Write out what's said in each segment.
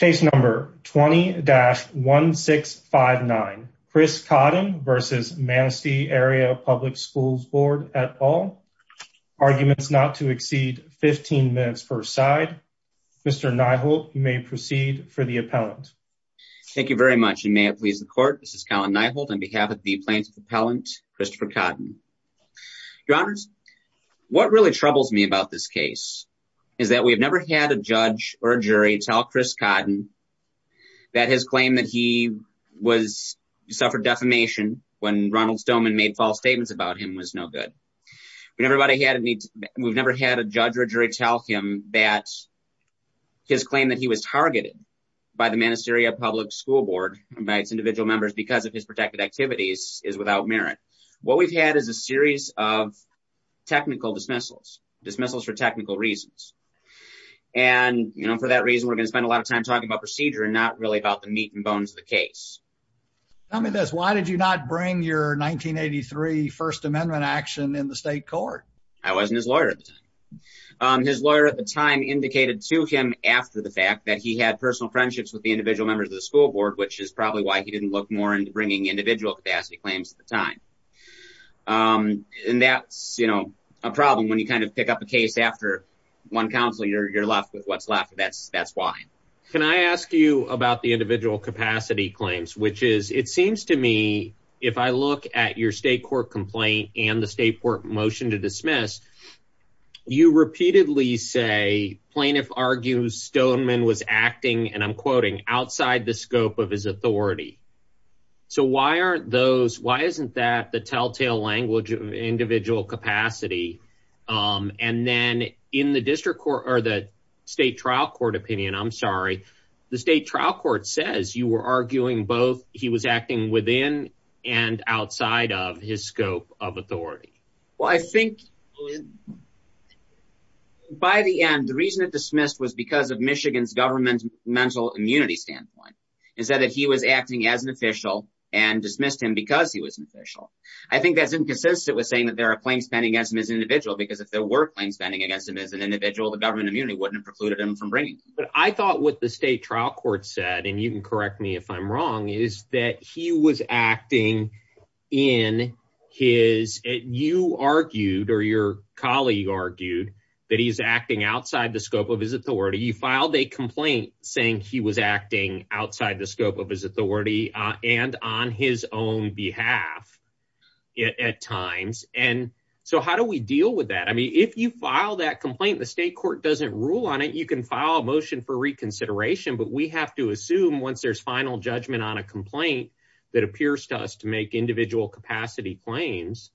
20-1659 Chris Codden v. Manistee Area Pub Schools Bd Arguments not to exceed 15 minutes per side Mr. Nyholt you may proceed for the appellant Thank you very much and may it please the court this is Colin Nyholt on behalf of the plaintiff appellant Christopher Codden Your honors what really troubles me about this case is that we have never had a judge or a jury tell Chris Codden that his claim that he was suffered defamation when Ronald Stoneman made false statements about him was no good we've never had a judge or jury tell him that his claim that he was targeted by the Manistee Area Public School Board by its individual members because of his protected activities is without merit what we've had is a series of technical dismissals dismissals for technical reasons and you know for that reason we're going to spend a lot of time talking about procedure and not really about the meat and bones of the case tell me this why did you not bring your 1983 first amendment action in the state court I wasn't his lawyer at the time his lawyer at the time indicated to him after the fact that he had personal friendships with the individual members of the school board which is probably why he didn't look more into bringing individual capacity claims at the time and that's you know a problem when you kind of pick up a case after one council you're you're left with what's left that's that's why can I ask you about the individual capacity claims which is it seems to me if I look at your state court complaint and the state court motion to dismiss you repeatedly say plaintiff argues Stoneman was acting and I'm quoting outside the scope of his authority so why aren't those why isn't that the telltale language of individual capacity um and then in the district court or the state trial court opinion I'm sorry the state trial court says you were arguing both he was acting within and outside of his scope of authority well I think by the end the reason it dismissed was because of Michigan's government mental immunity standpoint instead that he was acting as an official and dismissed him because he was an official I think that's inconsistent with saying that there are claims pending against him as an individual because if there were claims pending against him as an individual the government immunity wouldn't have precluded him from bringing but I thought what the state trial court said and you can correct me if I'm wrong is that he was acting in his you argued or your colleague argued that he's acting outside the scope of his authority you filed a complaint saying he was acting outside the scope of his authority and on his own behalf at times and so how do we deal with that I mean if you file that complaint the state court doesn't rule on it you can file a motion for reconsideration but we have to assume once there's final judgment on a complaint that appears to us to make individual capacity claims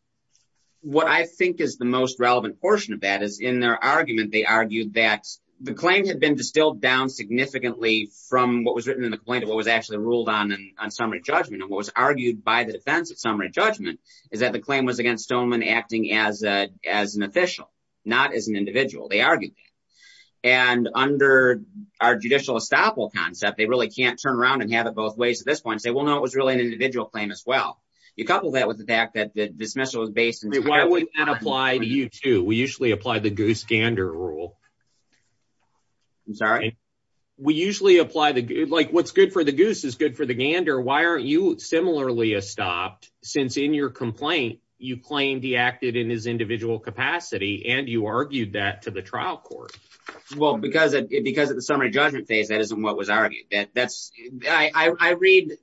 what I think is the most relevant portion of that is in their argument they argued that the claim had been distilled down significantly from what was written in the complaint of what was actually ruled on on summary judgment and what was argued by the defense at summary judgment is that the claim was against Stoneman acting as a as an official not as an individual they argued that and under our judicial estoppel concept they really can't turn around and have it both ways at this point say well no it was really an individual claim as well you couple that with the fact that the dismissal was based and why would that apply to you too we usually apply the goose gander rule I'm sorry we usually apply the good like what's good for the goose is good for the gander why aren't you similarly estopped since in your complaint you claimed he acted in his individual capacity and you argued that to the trial court well because it because of the summary judgment phase that isn't what was argued that that's I read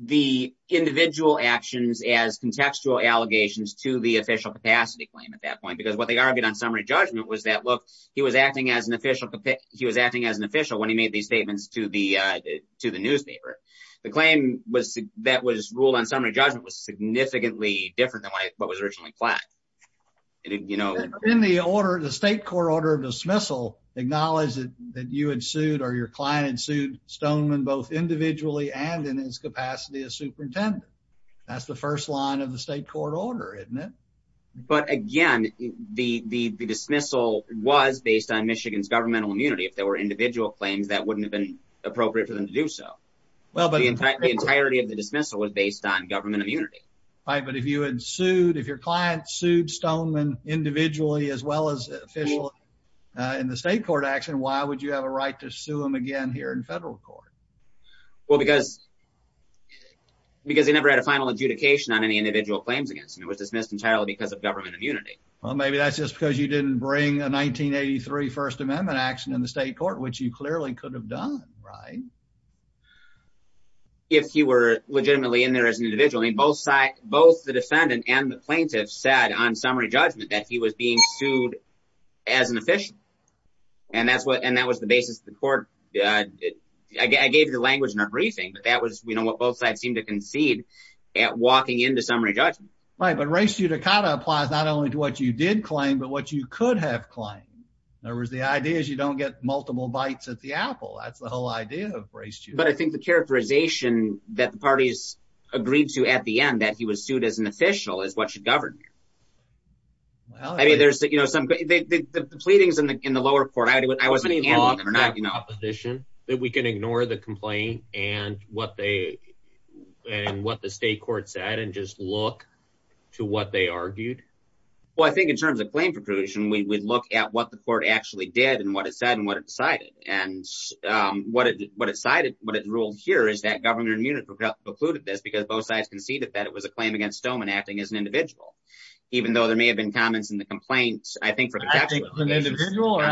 the individual actions as contextual allegations to the official capacity claim at that point because what they argued on summary judgment was that look he was acting as an official he was acting as an official when he made these statements to the uh to the newspaper the claim was that was ruled on summary judgment was significantly different than what was originally planned you know in the order the state court order of dismissal acknowledged that you had sued or your client and sued stoneman both individually and in his capacity as superintendent that's the first line of the state court order isn't it but again the the dismissal was based on michigan's governmental immunity if there were individual claims that wouldn't have been appropriate for them to do so well but the entirety of the dismissal was based on government immunity right but if you had sued if your client sued stoneman individually as well as officially uh in the state court action why would you have a right to sue him again here in federal court well because because he never had a final adjudication on any individual claims against him it was dismissed entirely because of government immunity well maybe that's just because you didn't bring a 1983 first amendment action in the state court which you clearly could have done right if he were legitimately in there as an individual in both side both the defendant and the plaintiff said on summary judgment that he was being sued as an official and that's what and that was the basis of the court i gave the language in our briefing but that was you know what both sides seem to concede at walking into summary judgment right but race judicata applies not only to what you did claim but what you could have claimed in other words the idea is you don't get multiple bites at the apple that's the whole idea of race but i think the characterization that the parties agreed to at the end that he was sued as an official is what should govern i mean there's you know some the pleadings in the in the lower court i wasn't in or not you know opposition that we can ignore the complaint and what they and what the state court said and just look to what they argued well i think in terms of claim we look at what the court actually did and what it said and what it decided and um what it what it cited what it ruled here is that governor munich precluded this because both sides conceded that it was a claim against stoneman acting as an individual even though there may have been comments in the complaints i think for the individual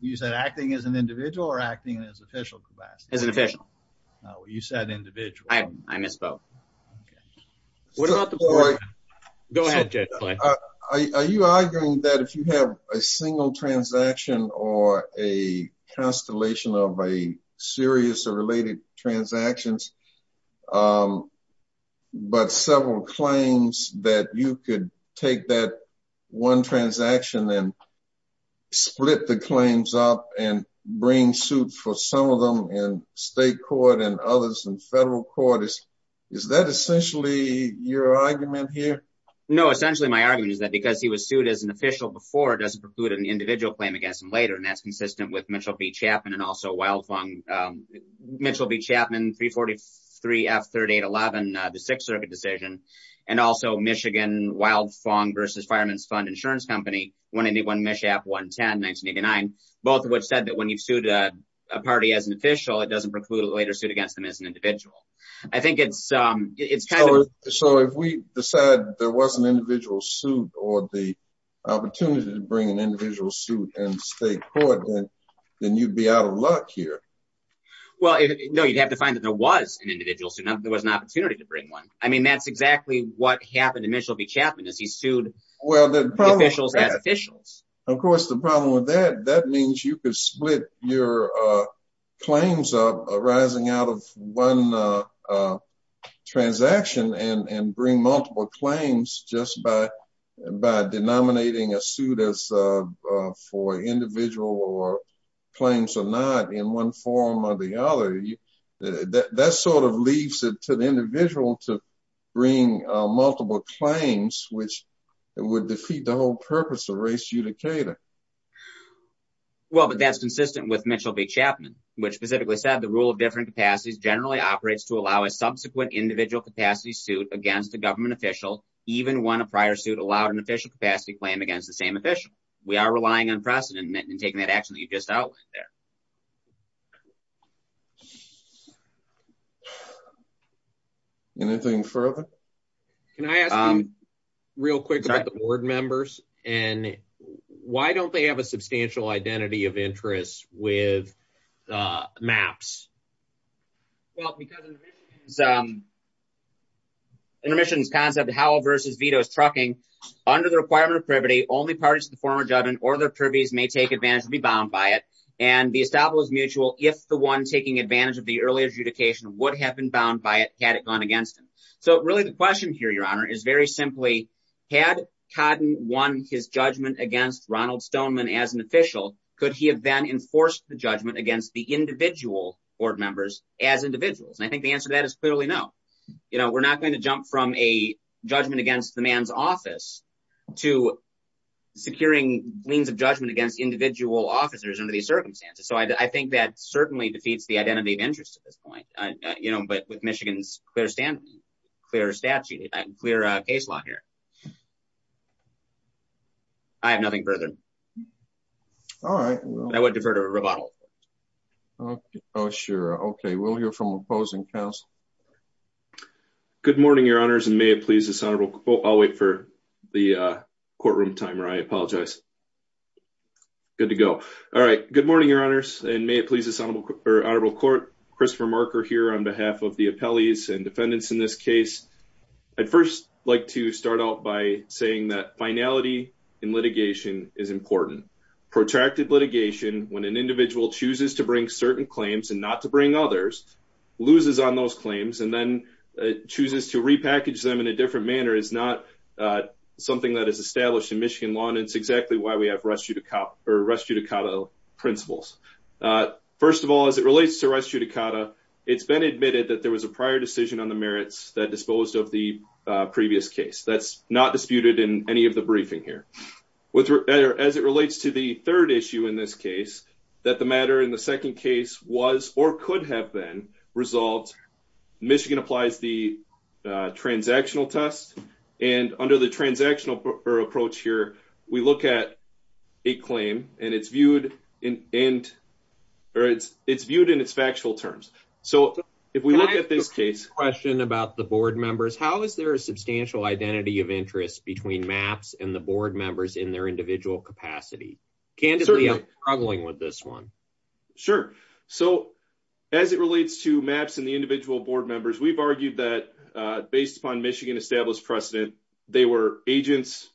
you said acting as an individual or acting as official capacity as an official no you said individual i i misspoke okay what about the boy go ahead are you arguing that if you have a single transaction or a constellation of a serious or related transactions um but several claims that you could take that one transaction and split the claims up and bring suit for some of them and state court and others and federal court is is that essentially your argument here no essentially my argument is that because he was sued as an official before it doesn't preclude an individual claim against him later and that's consistent with mitchell v chapman and also wildfung um mitchell v chapman 343 f 38 11 the sixth circuit decision and also michigan wildfung versus fireman's fund insurance company 181 mishap 110 1989 both of which said that when you've sued a party as an official it doesn't preclude later suit against them as an individual i think it's um it's kind of so if we decide there was an individual suit or the opportunity to bring an individual suit and state court then you'd be out of luck here well no you'd have to find that there was an individual so there was an opportunity to bring one i mean that's exactly what happened to mitchell v chapman as he sued well the officials as officials of course the problem with that that means you could split your uh claims up arising out of one uh transaction and and bring multiple claims just by by denominating a suit as uh for individual or claims or not in one form or the other that sort of leaves it to the individual to bring uh multiple claims which would defeat the whole purpose of race judicator well but that's consistent with mitchell v chapman which specifically said the rule of different capacities generally operates to allow a subsequent individual capacity suit against a government official even when a prior suit allowed an official capacity claim against the same official we are relying on precedent and taking that action that you just outlined there anything further can i ask real quick about the board members and why don't they have a substantial identity of interest with uh maps well because um intermissions concept howell versus vetoes trucking under the requirement of privity only parties to the former judgment or their privies may take advantage to be bound by it and the establishment is mutual if the one taking advantage of the early adjudication would have been bound by it had it gone against him so really the question here your honor is very simply had codden won his judgment against ronald stoneman as an official could he have then enforced the judgment against the individual board members as individuals i think the answer to that is clearly no you know we're not going to jump from a judgment against the man's office to securing means of judgment against individual officers under these circumstances so i think that certainly defeats the identity of interest at this point you know but with michigan's clear stand clear statute clear uh case law here i have nothing further all right i would defer to a rebuttal okay oh sure okay we'll hear from opposing council good morning your honors and may it please this honorable quote i'll wait for the uh courtroom timer i apologize good to go all right good morning your honors and may it please this honorable or honorable court christopher marker here on behalf of the appellees and defendants in this case i'd first like to start out by saying that finality in litigation is important protracted litigation when an individual chooses to bring certain claims and not to bring others loses on those claims and then chooses to repackage them in a different manner is not uh something that is established in michigan law and it's exactly why we have rest you to cop or rest you to kata principles first of all as it relates to rest you to kata it's been admitted that there was a prior decision on the merits that disposed of the previous case that's not disputed in any of the briefing here with as it relates to the third issue in this case that the matter in the second case was or could have been resolved michigan applies the transactional test and under the transactional approach here we look at a claim and it's viewed in end or it's it's viewed in its factual terms so if we look at this case question about the board members how is there a substantial identity of interest between maps and the board members in their individual capacity candidly i'm struggling with this one sure so as it relates to maps and the individual board members we've argued that uh based upon michigan established precedent they were agents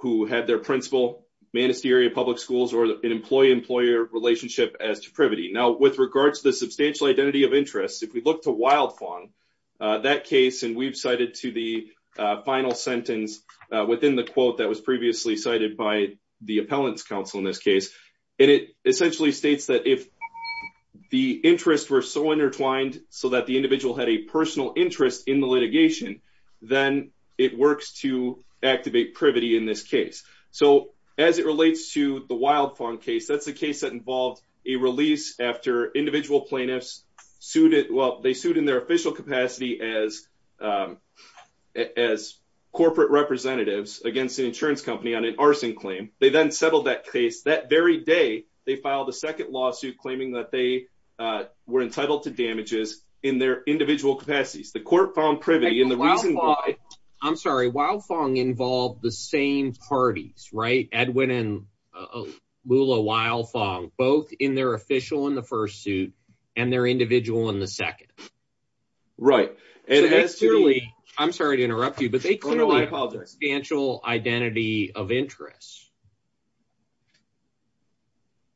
who had their principal manistee area public schools or an employee employer relationship as deprivity now with regards to the substantial identity of interest if we look to wild fong that case and we've cited to the final sentence within the quote that was previously cited by the appellants council in this case and it essentially states that if the interest were so intertwined so that the individual had a personal interest in the litigation then it works to activate privity in this case so as it relates to the wild phone case that's the case that involved a release after individual plaintiffs sued it well they sued in their official capacity as um as corporate representatives against an insurance company on an arson claim they then settled that case that very day they filed a second lawsuit claiming that they uh were entitled to damages in their i'm sorry wild fong involved the same parties right edwin and lula wild fong both in their official in the first suit and their individual in the second right and as clearly i'm sorry to interrupt you but they clearly i apologize substantial identity of interest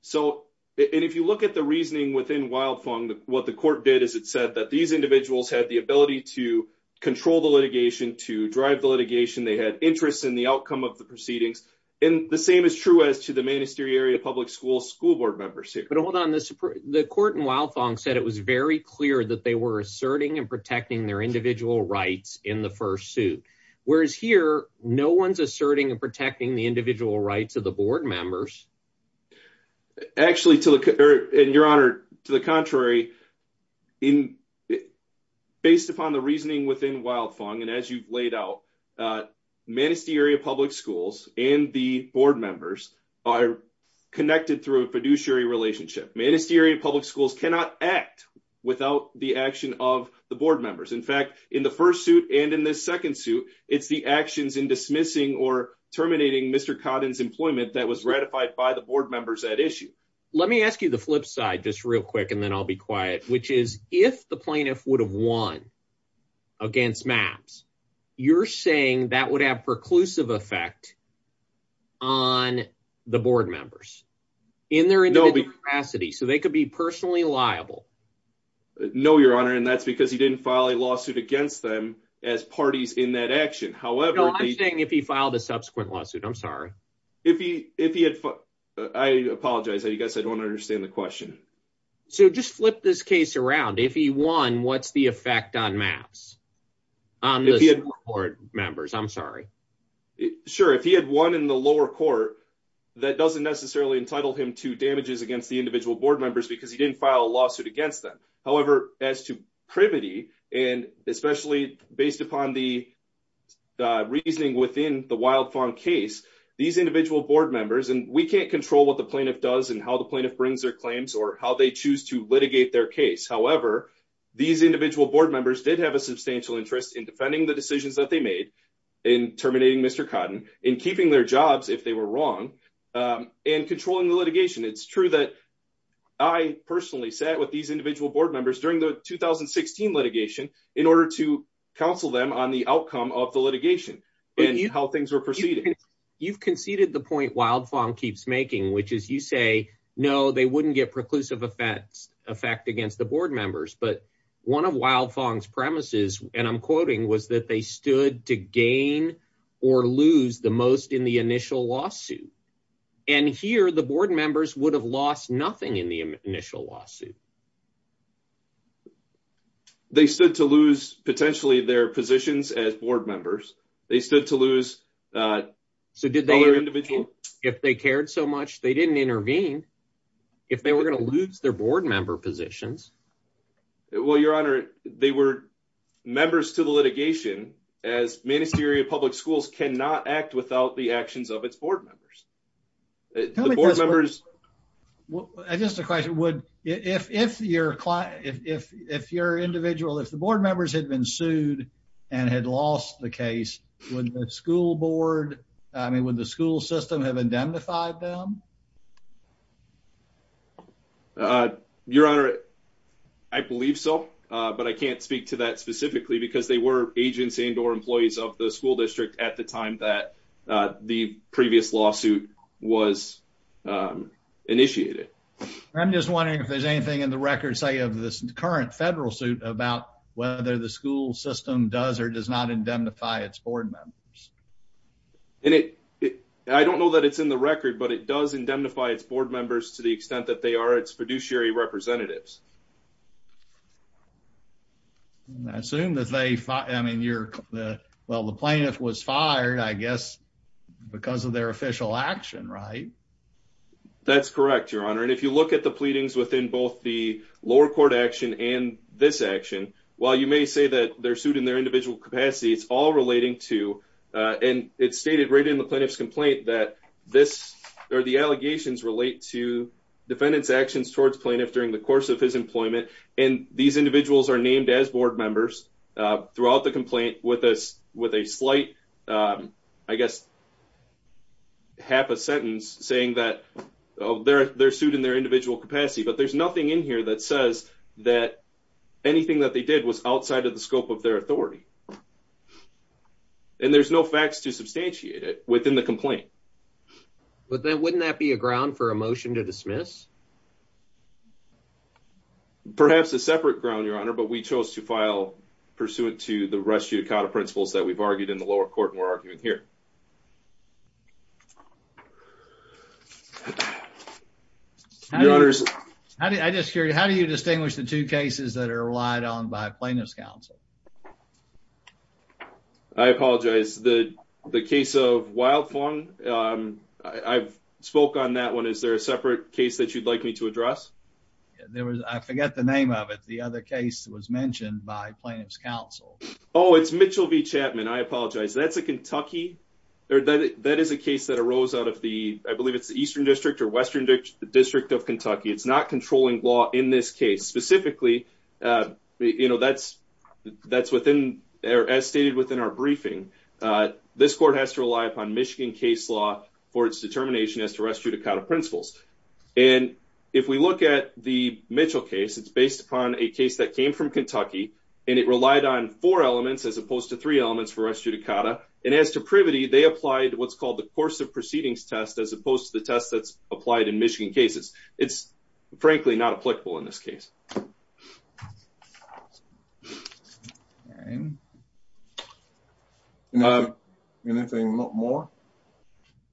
so and if you look at the reasoning within wild fong what the court did is it said that these individuals had the ability to control the litigation to drive the litigation they had interest in the outcome of the proceedings and the same is true as to the ministerial public school school board members here but hold on this the court in wild fong said it was very clear that they were asserting and protecting their individual rights in the first suit whereas here no one's asserting and protecting the individual rights of the board members actually to the and your honor to the contrary in based upon the reasoning within wild fong and as you've laid out uh ministerial public schools and the board members are connected through a fiduciary relationship ministerial public schools cannot act without the action of the board members in fact in the first suit and in this second suit it's the actions in dismissing or terminating mr codden's employment that was ratified by the board members at issue let me ask you the flip side just real and then i'll be quiet which is if the plaintiff would have won against maps you're saying that would have preclusive effect on the board members in their capacity so they could be personally liable no your honor and that's because he didn't file a lawsuit against them as parties in that action however i'm saying if he filed a subsequent lawsuit i'm sorry if he if he had fought i apologize i guess i don't understand the question so just flip this case around if he won what's the effect on maps on the board members i'm sorry sure if he had won in the lower court that doesn't necessarily entitle him to damages against the individual board members because he didn't file a lawsuit against them however as to privity and especially based upon the reasoning within the wild fawn case these individual board members and we can't control what the plaintiff does and how the plaintiff brings their claims or how they choose to litigate their case however these individual board members did have a substantial interest in defending the decisions that they made in terminating mr cotton in keeping their jobs if they were wrong and controlling the litigation it's true that i personally sat with these individual board members during the 2016 litigation in order to counsel them on the outcome of the litigation and how things were proceeding you've conceded the point wild fawn keeps making which is you say no they wouldn't get preclusive effects effect against the board members but one of wild fawn's premises and i'm quoting was that they stood to gain or lose the most in the initial lawsuit and here the board members would have lost nothing in the initial lawsuit they stood to lose potentially their positions as board members they stood to lose uh so did they individual if they cared so much they didn't intervene if they were going to lose their board member positions well your honor they were members to the litigation as ministerial public schools cannot act without the actions of its board members the board members well just a question would if if you're if if you're individual if the board members had been sued and had lost the case would the school board i mean would the school system have indemnified them uh your honor i believe so uh but i can't speak to that specifically because they were agents and or employees of the school district at the time that uh the previous lawsuit was initiated i'm just wondering if there's anything in the record say of this current federal suit about whether the school system does or does not indemnify its board members and it i don't know that it's in the record but it does indemnify its board members to the extent that they are its fiduciary representatives i assume that they fought i mean you're the well the plaintiff was fired i guess because of their official action right that's correct your honor and if you this action while you may say that they're sued in their individual capacity it's all relating to uh and it's stated right in the plaintiff's complaint that this or the allegations relate to defendant's actions towards plaintiff during the course of his employment and these individuals are named as board members uh throughout the complaint with us with a slight um i guess half a sentence saying that oh they're they're sued in their individual capacity but there's nothing in here that says that anything that they did was outside of the scope of their authority and there's no facts to substantiate it within the complaint but then wouldn't that be a ground for a motion to dismiss perhaps a separate ground your honor but we chose to file pursuant to the rest of the principles that we've argued in the lower court we're arguing here okay how do i just hear you how do you distinguish the two cases that are relied on by plaintiff's counsel i apologize the the case of wild form um i've spoke on that one is there a separate case that you'd like me to address there was i forget the name of it the other case was mentioned by plaintiff's counsel oh it's mitchell v chapman i apologize that's a kentucky or that that is a case that arose out of the i believe it's the eastern district or western district of kentucky it's not controlling law in this case specifically uh you know that's that's within or as stated within our briefing uh this court has to rely upon michigan case law for its determination as to restrict a kind of principles and if we look at the mitchell case it's based upon a case that came from kentucky and it relied on four elements as opposed to three elements for us judicata and as to privity they applied what's called the course of proceedings test as opposed to the test that's applied in michigan cases it's frankly not applicable in this case you know anything a lot more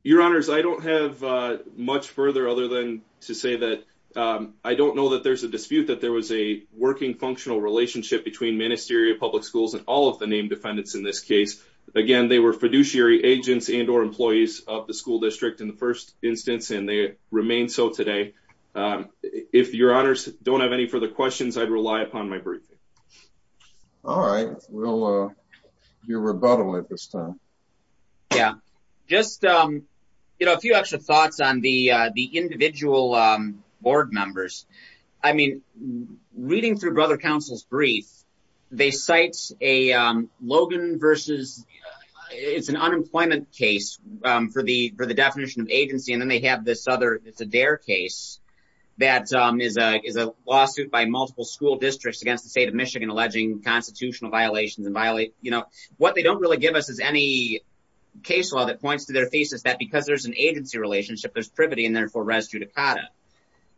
your honors i don't have uh much further other than to say that um i don't know that there's a dispute that there was a working functional relationship between ministry of public schools and all of the named defendants in this case again they were fiduciary agents and or employees of the school district in the first instance and they remain so today if your honors don't have any further questions i'd rely upon my briefing all right we'll uh do rebuttal at this time yeah just um you know a few extra thoughts on the uh the individual um board members i mean reading through brother council's brief they cite a um logan versus it's an unemployment case um for the for the definition of agency and then they have this other it's a dare case that um is a is a lawsuit by multiple school districts against the state of michigan alleging constitutional violations and violate you know what they don't really give us is any case law that points to their thesis that because there's an agency relationship there's privity and therefore residue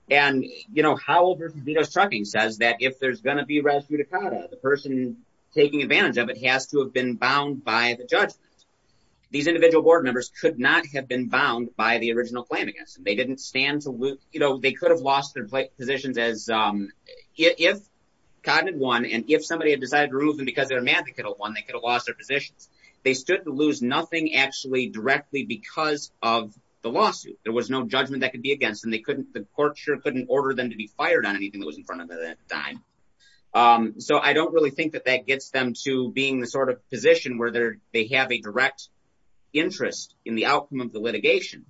and you know howell versus dito's trucking says that if there's going to be rescue dakota the person taking advantage of it has to have been bound by the judgment these individual board members could not have been bound by the original plan against them they didn't stand to lose you know they could have lost their positions as um if codded one and if somebody had decided to remove them because they're mad they could have won they could have lost their positions they stood to lose nothing actually directly because of the lawsuit there was no judgment that could be against and they couldn't the court sure couldn't order them to be fired on anything that was in front of that time um so i don't really think that that gets them to being the sort of position where they're they have a direct interest in the outcome of the litigation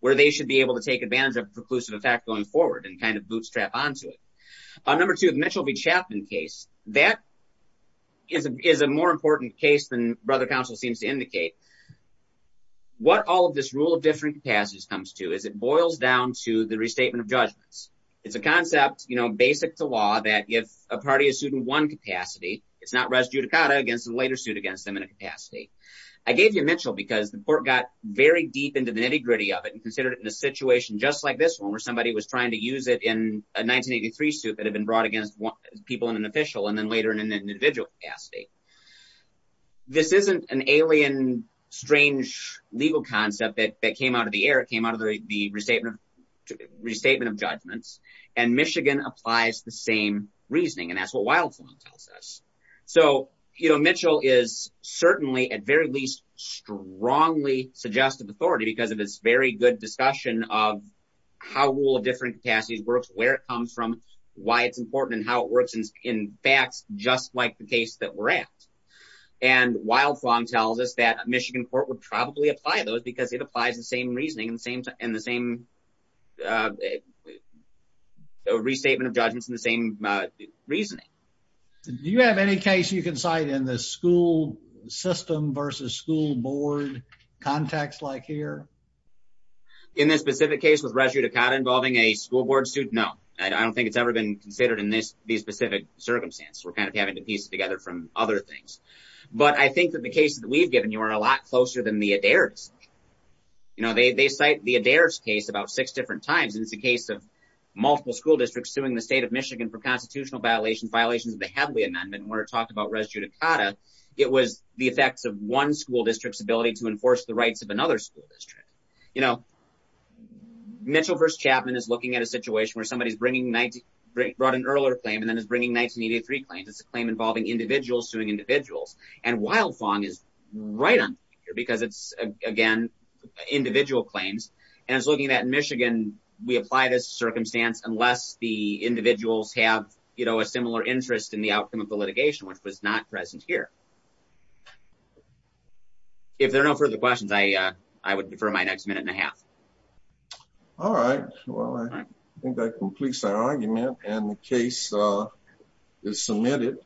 where they should be able to take advantage of preclusive effect going forward and kind of bootstrap onto it number two the mitchell v chapman case that is a more important case than brother counsel seems to indicate what all of this rule of different capacities comes to is it boils down to the restatement of judgments it's a concept you know basic to law that if a party is sued in one capacity it's not res judicata against the later suit against them in a capacity i gave you mitchell because the court got very deep into the nitty gritty of it and considered it in a situation just like this one where somebody was trying to use it in a 1983 suit that had been brought against people in an official and then later in an individual capacity this isn't an alien strange legal concept that that came out of the air it came out of the the restatement restatement of judgments and michigan applies the same reasoning and that's what wildflown tells us so you know mitchell is certainly at very least strongly suggestive authority because of this very good discussion of how rule of different capacities works where it comes from why it's important and how it works and in fact just like the case that we're and wildflown tells us that michigan court would probably apply those because it applies the same reasoning in the same time in the same restatement of judgments in the same reasoning do you have any case you can cite in the school system versus school board context like here in this specific case with res judicata involving a school board suit no i don't think it's ever been considered in this these specific circumstances we're kind of having to piece it together from other things but i think that the cases that we've given you are a lot closer than the adairs you know they cite the adairs case about six different times and it's a case of multiple school districts suing the state of michigan for constitutional violations violations of the hadley amendment and we're talking about res judicata it was the effects of one school district's ability to enforce the rights of another school district you know mitchell vs chapman is looking at a situation where somebody's bringing brought an earlier claim and then is bringing 1983 claims it's a claim involving individuals suing individuals and wild thong is right on here because it's again individual claims and it's looking at michigan we apply this circumstance unless the individuals have you know a similar interest in the outcome of the litigation which was not present here if there are no further questions i uh i would defer my next minute and a half all right well i think that completes our argument and the case uh is submitted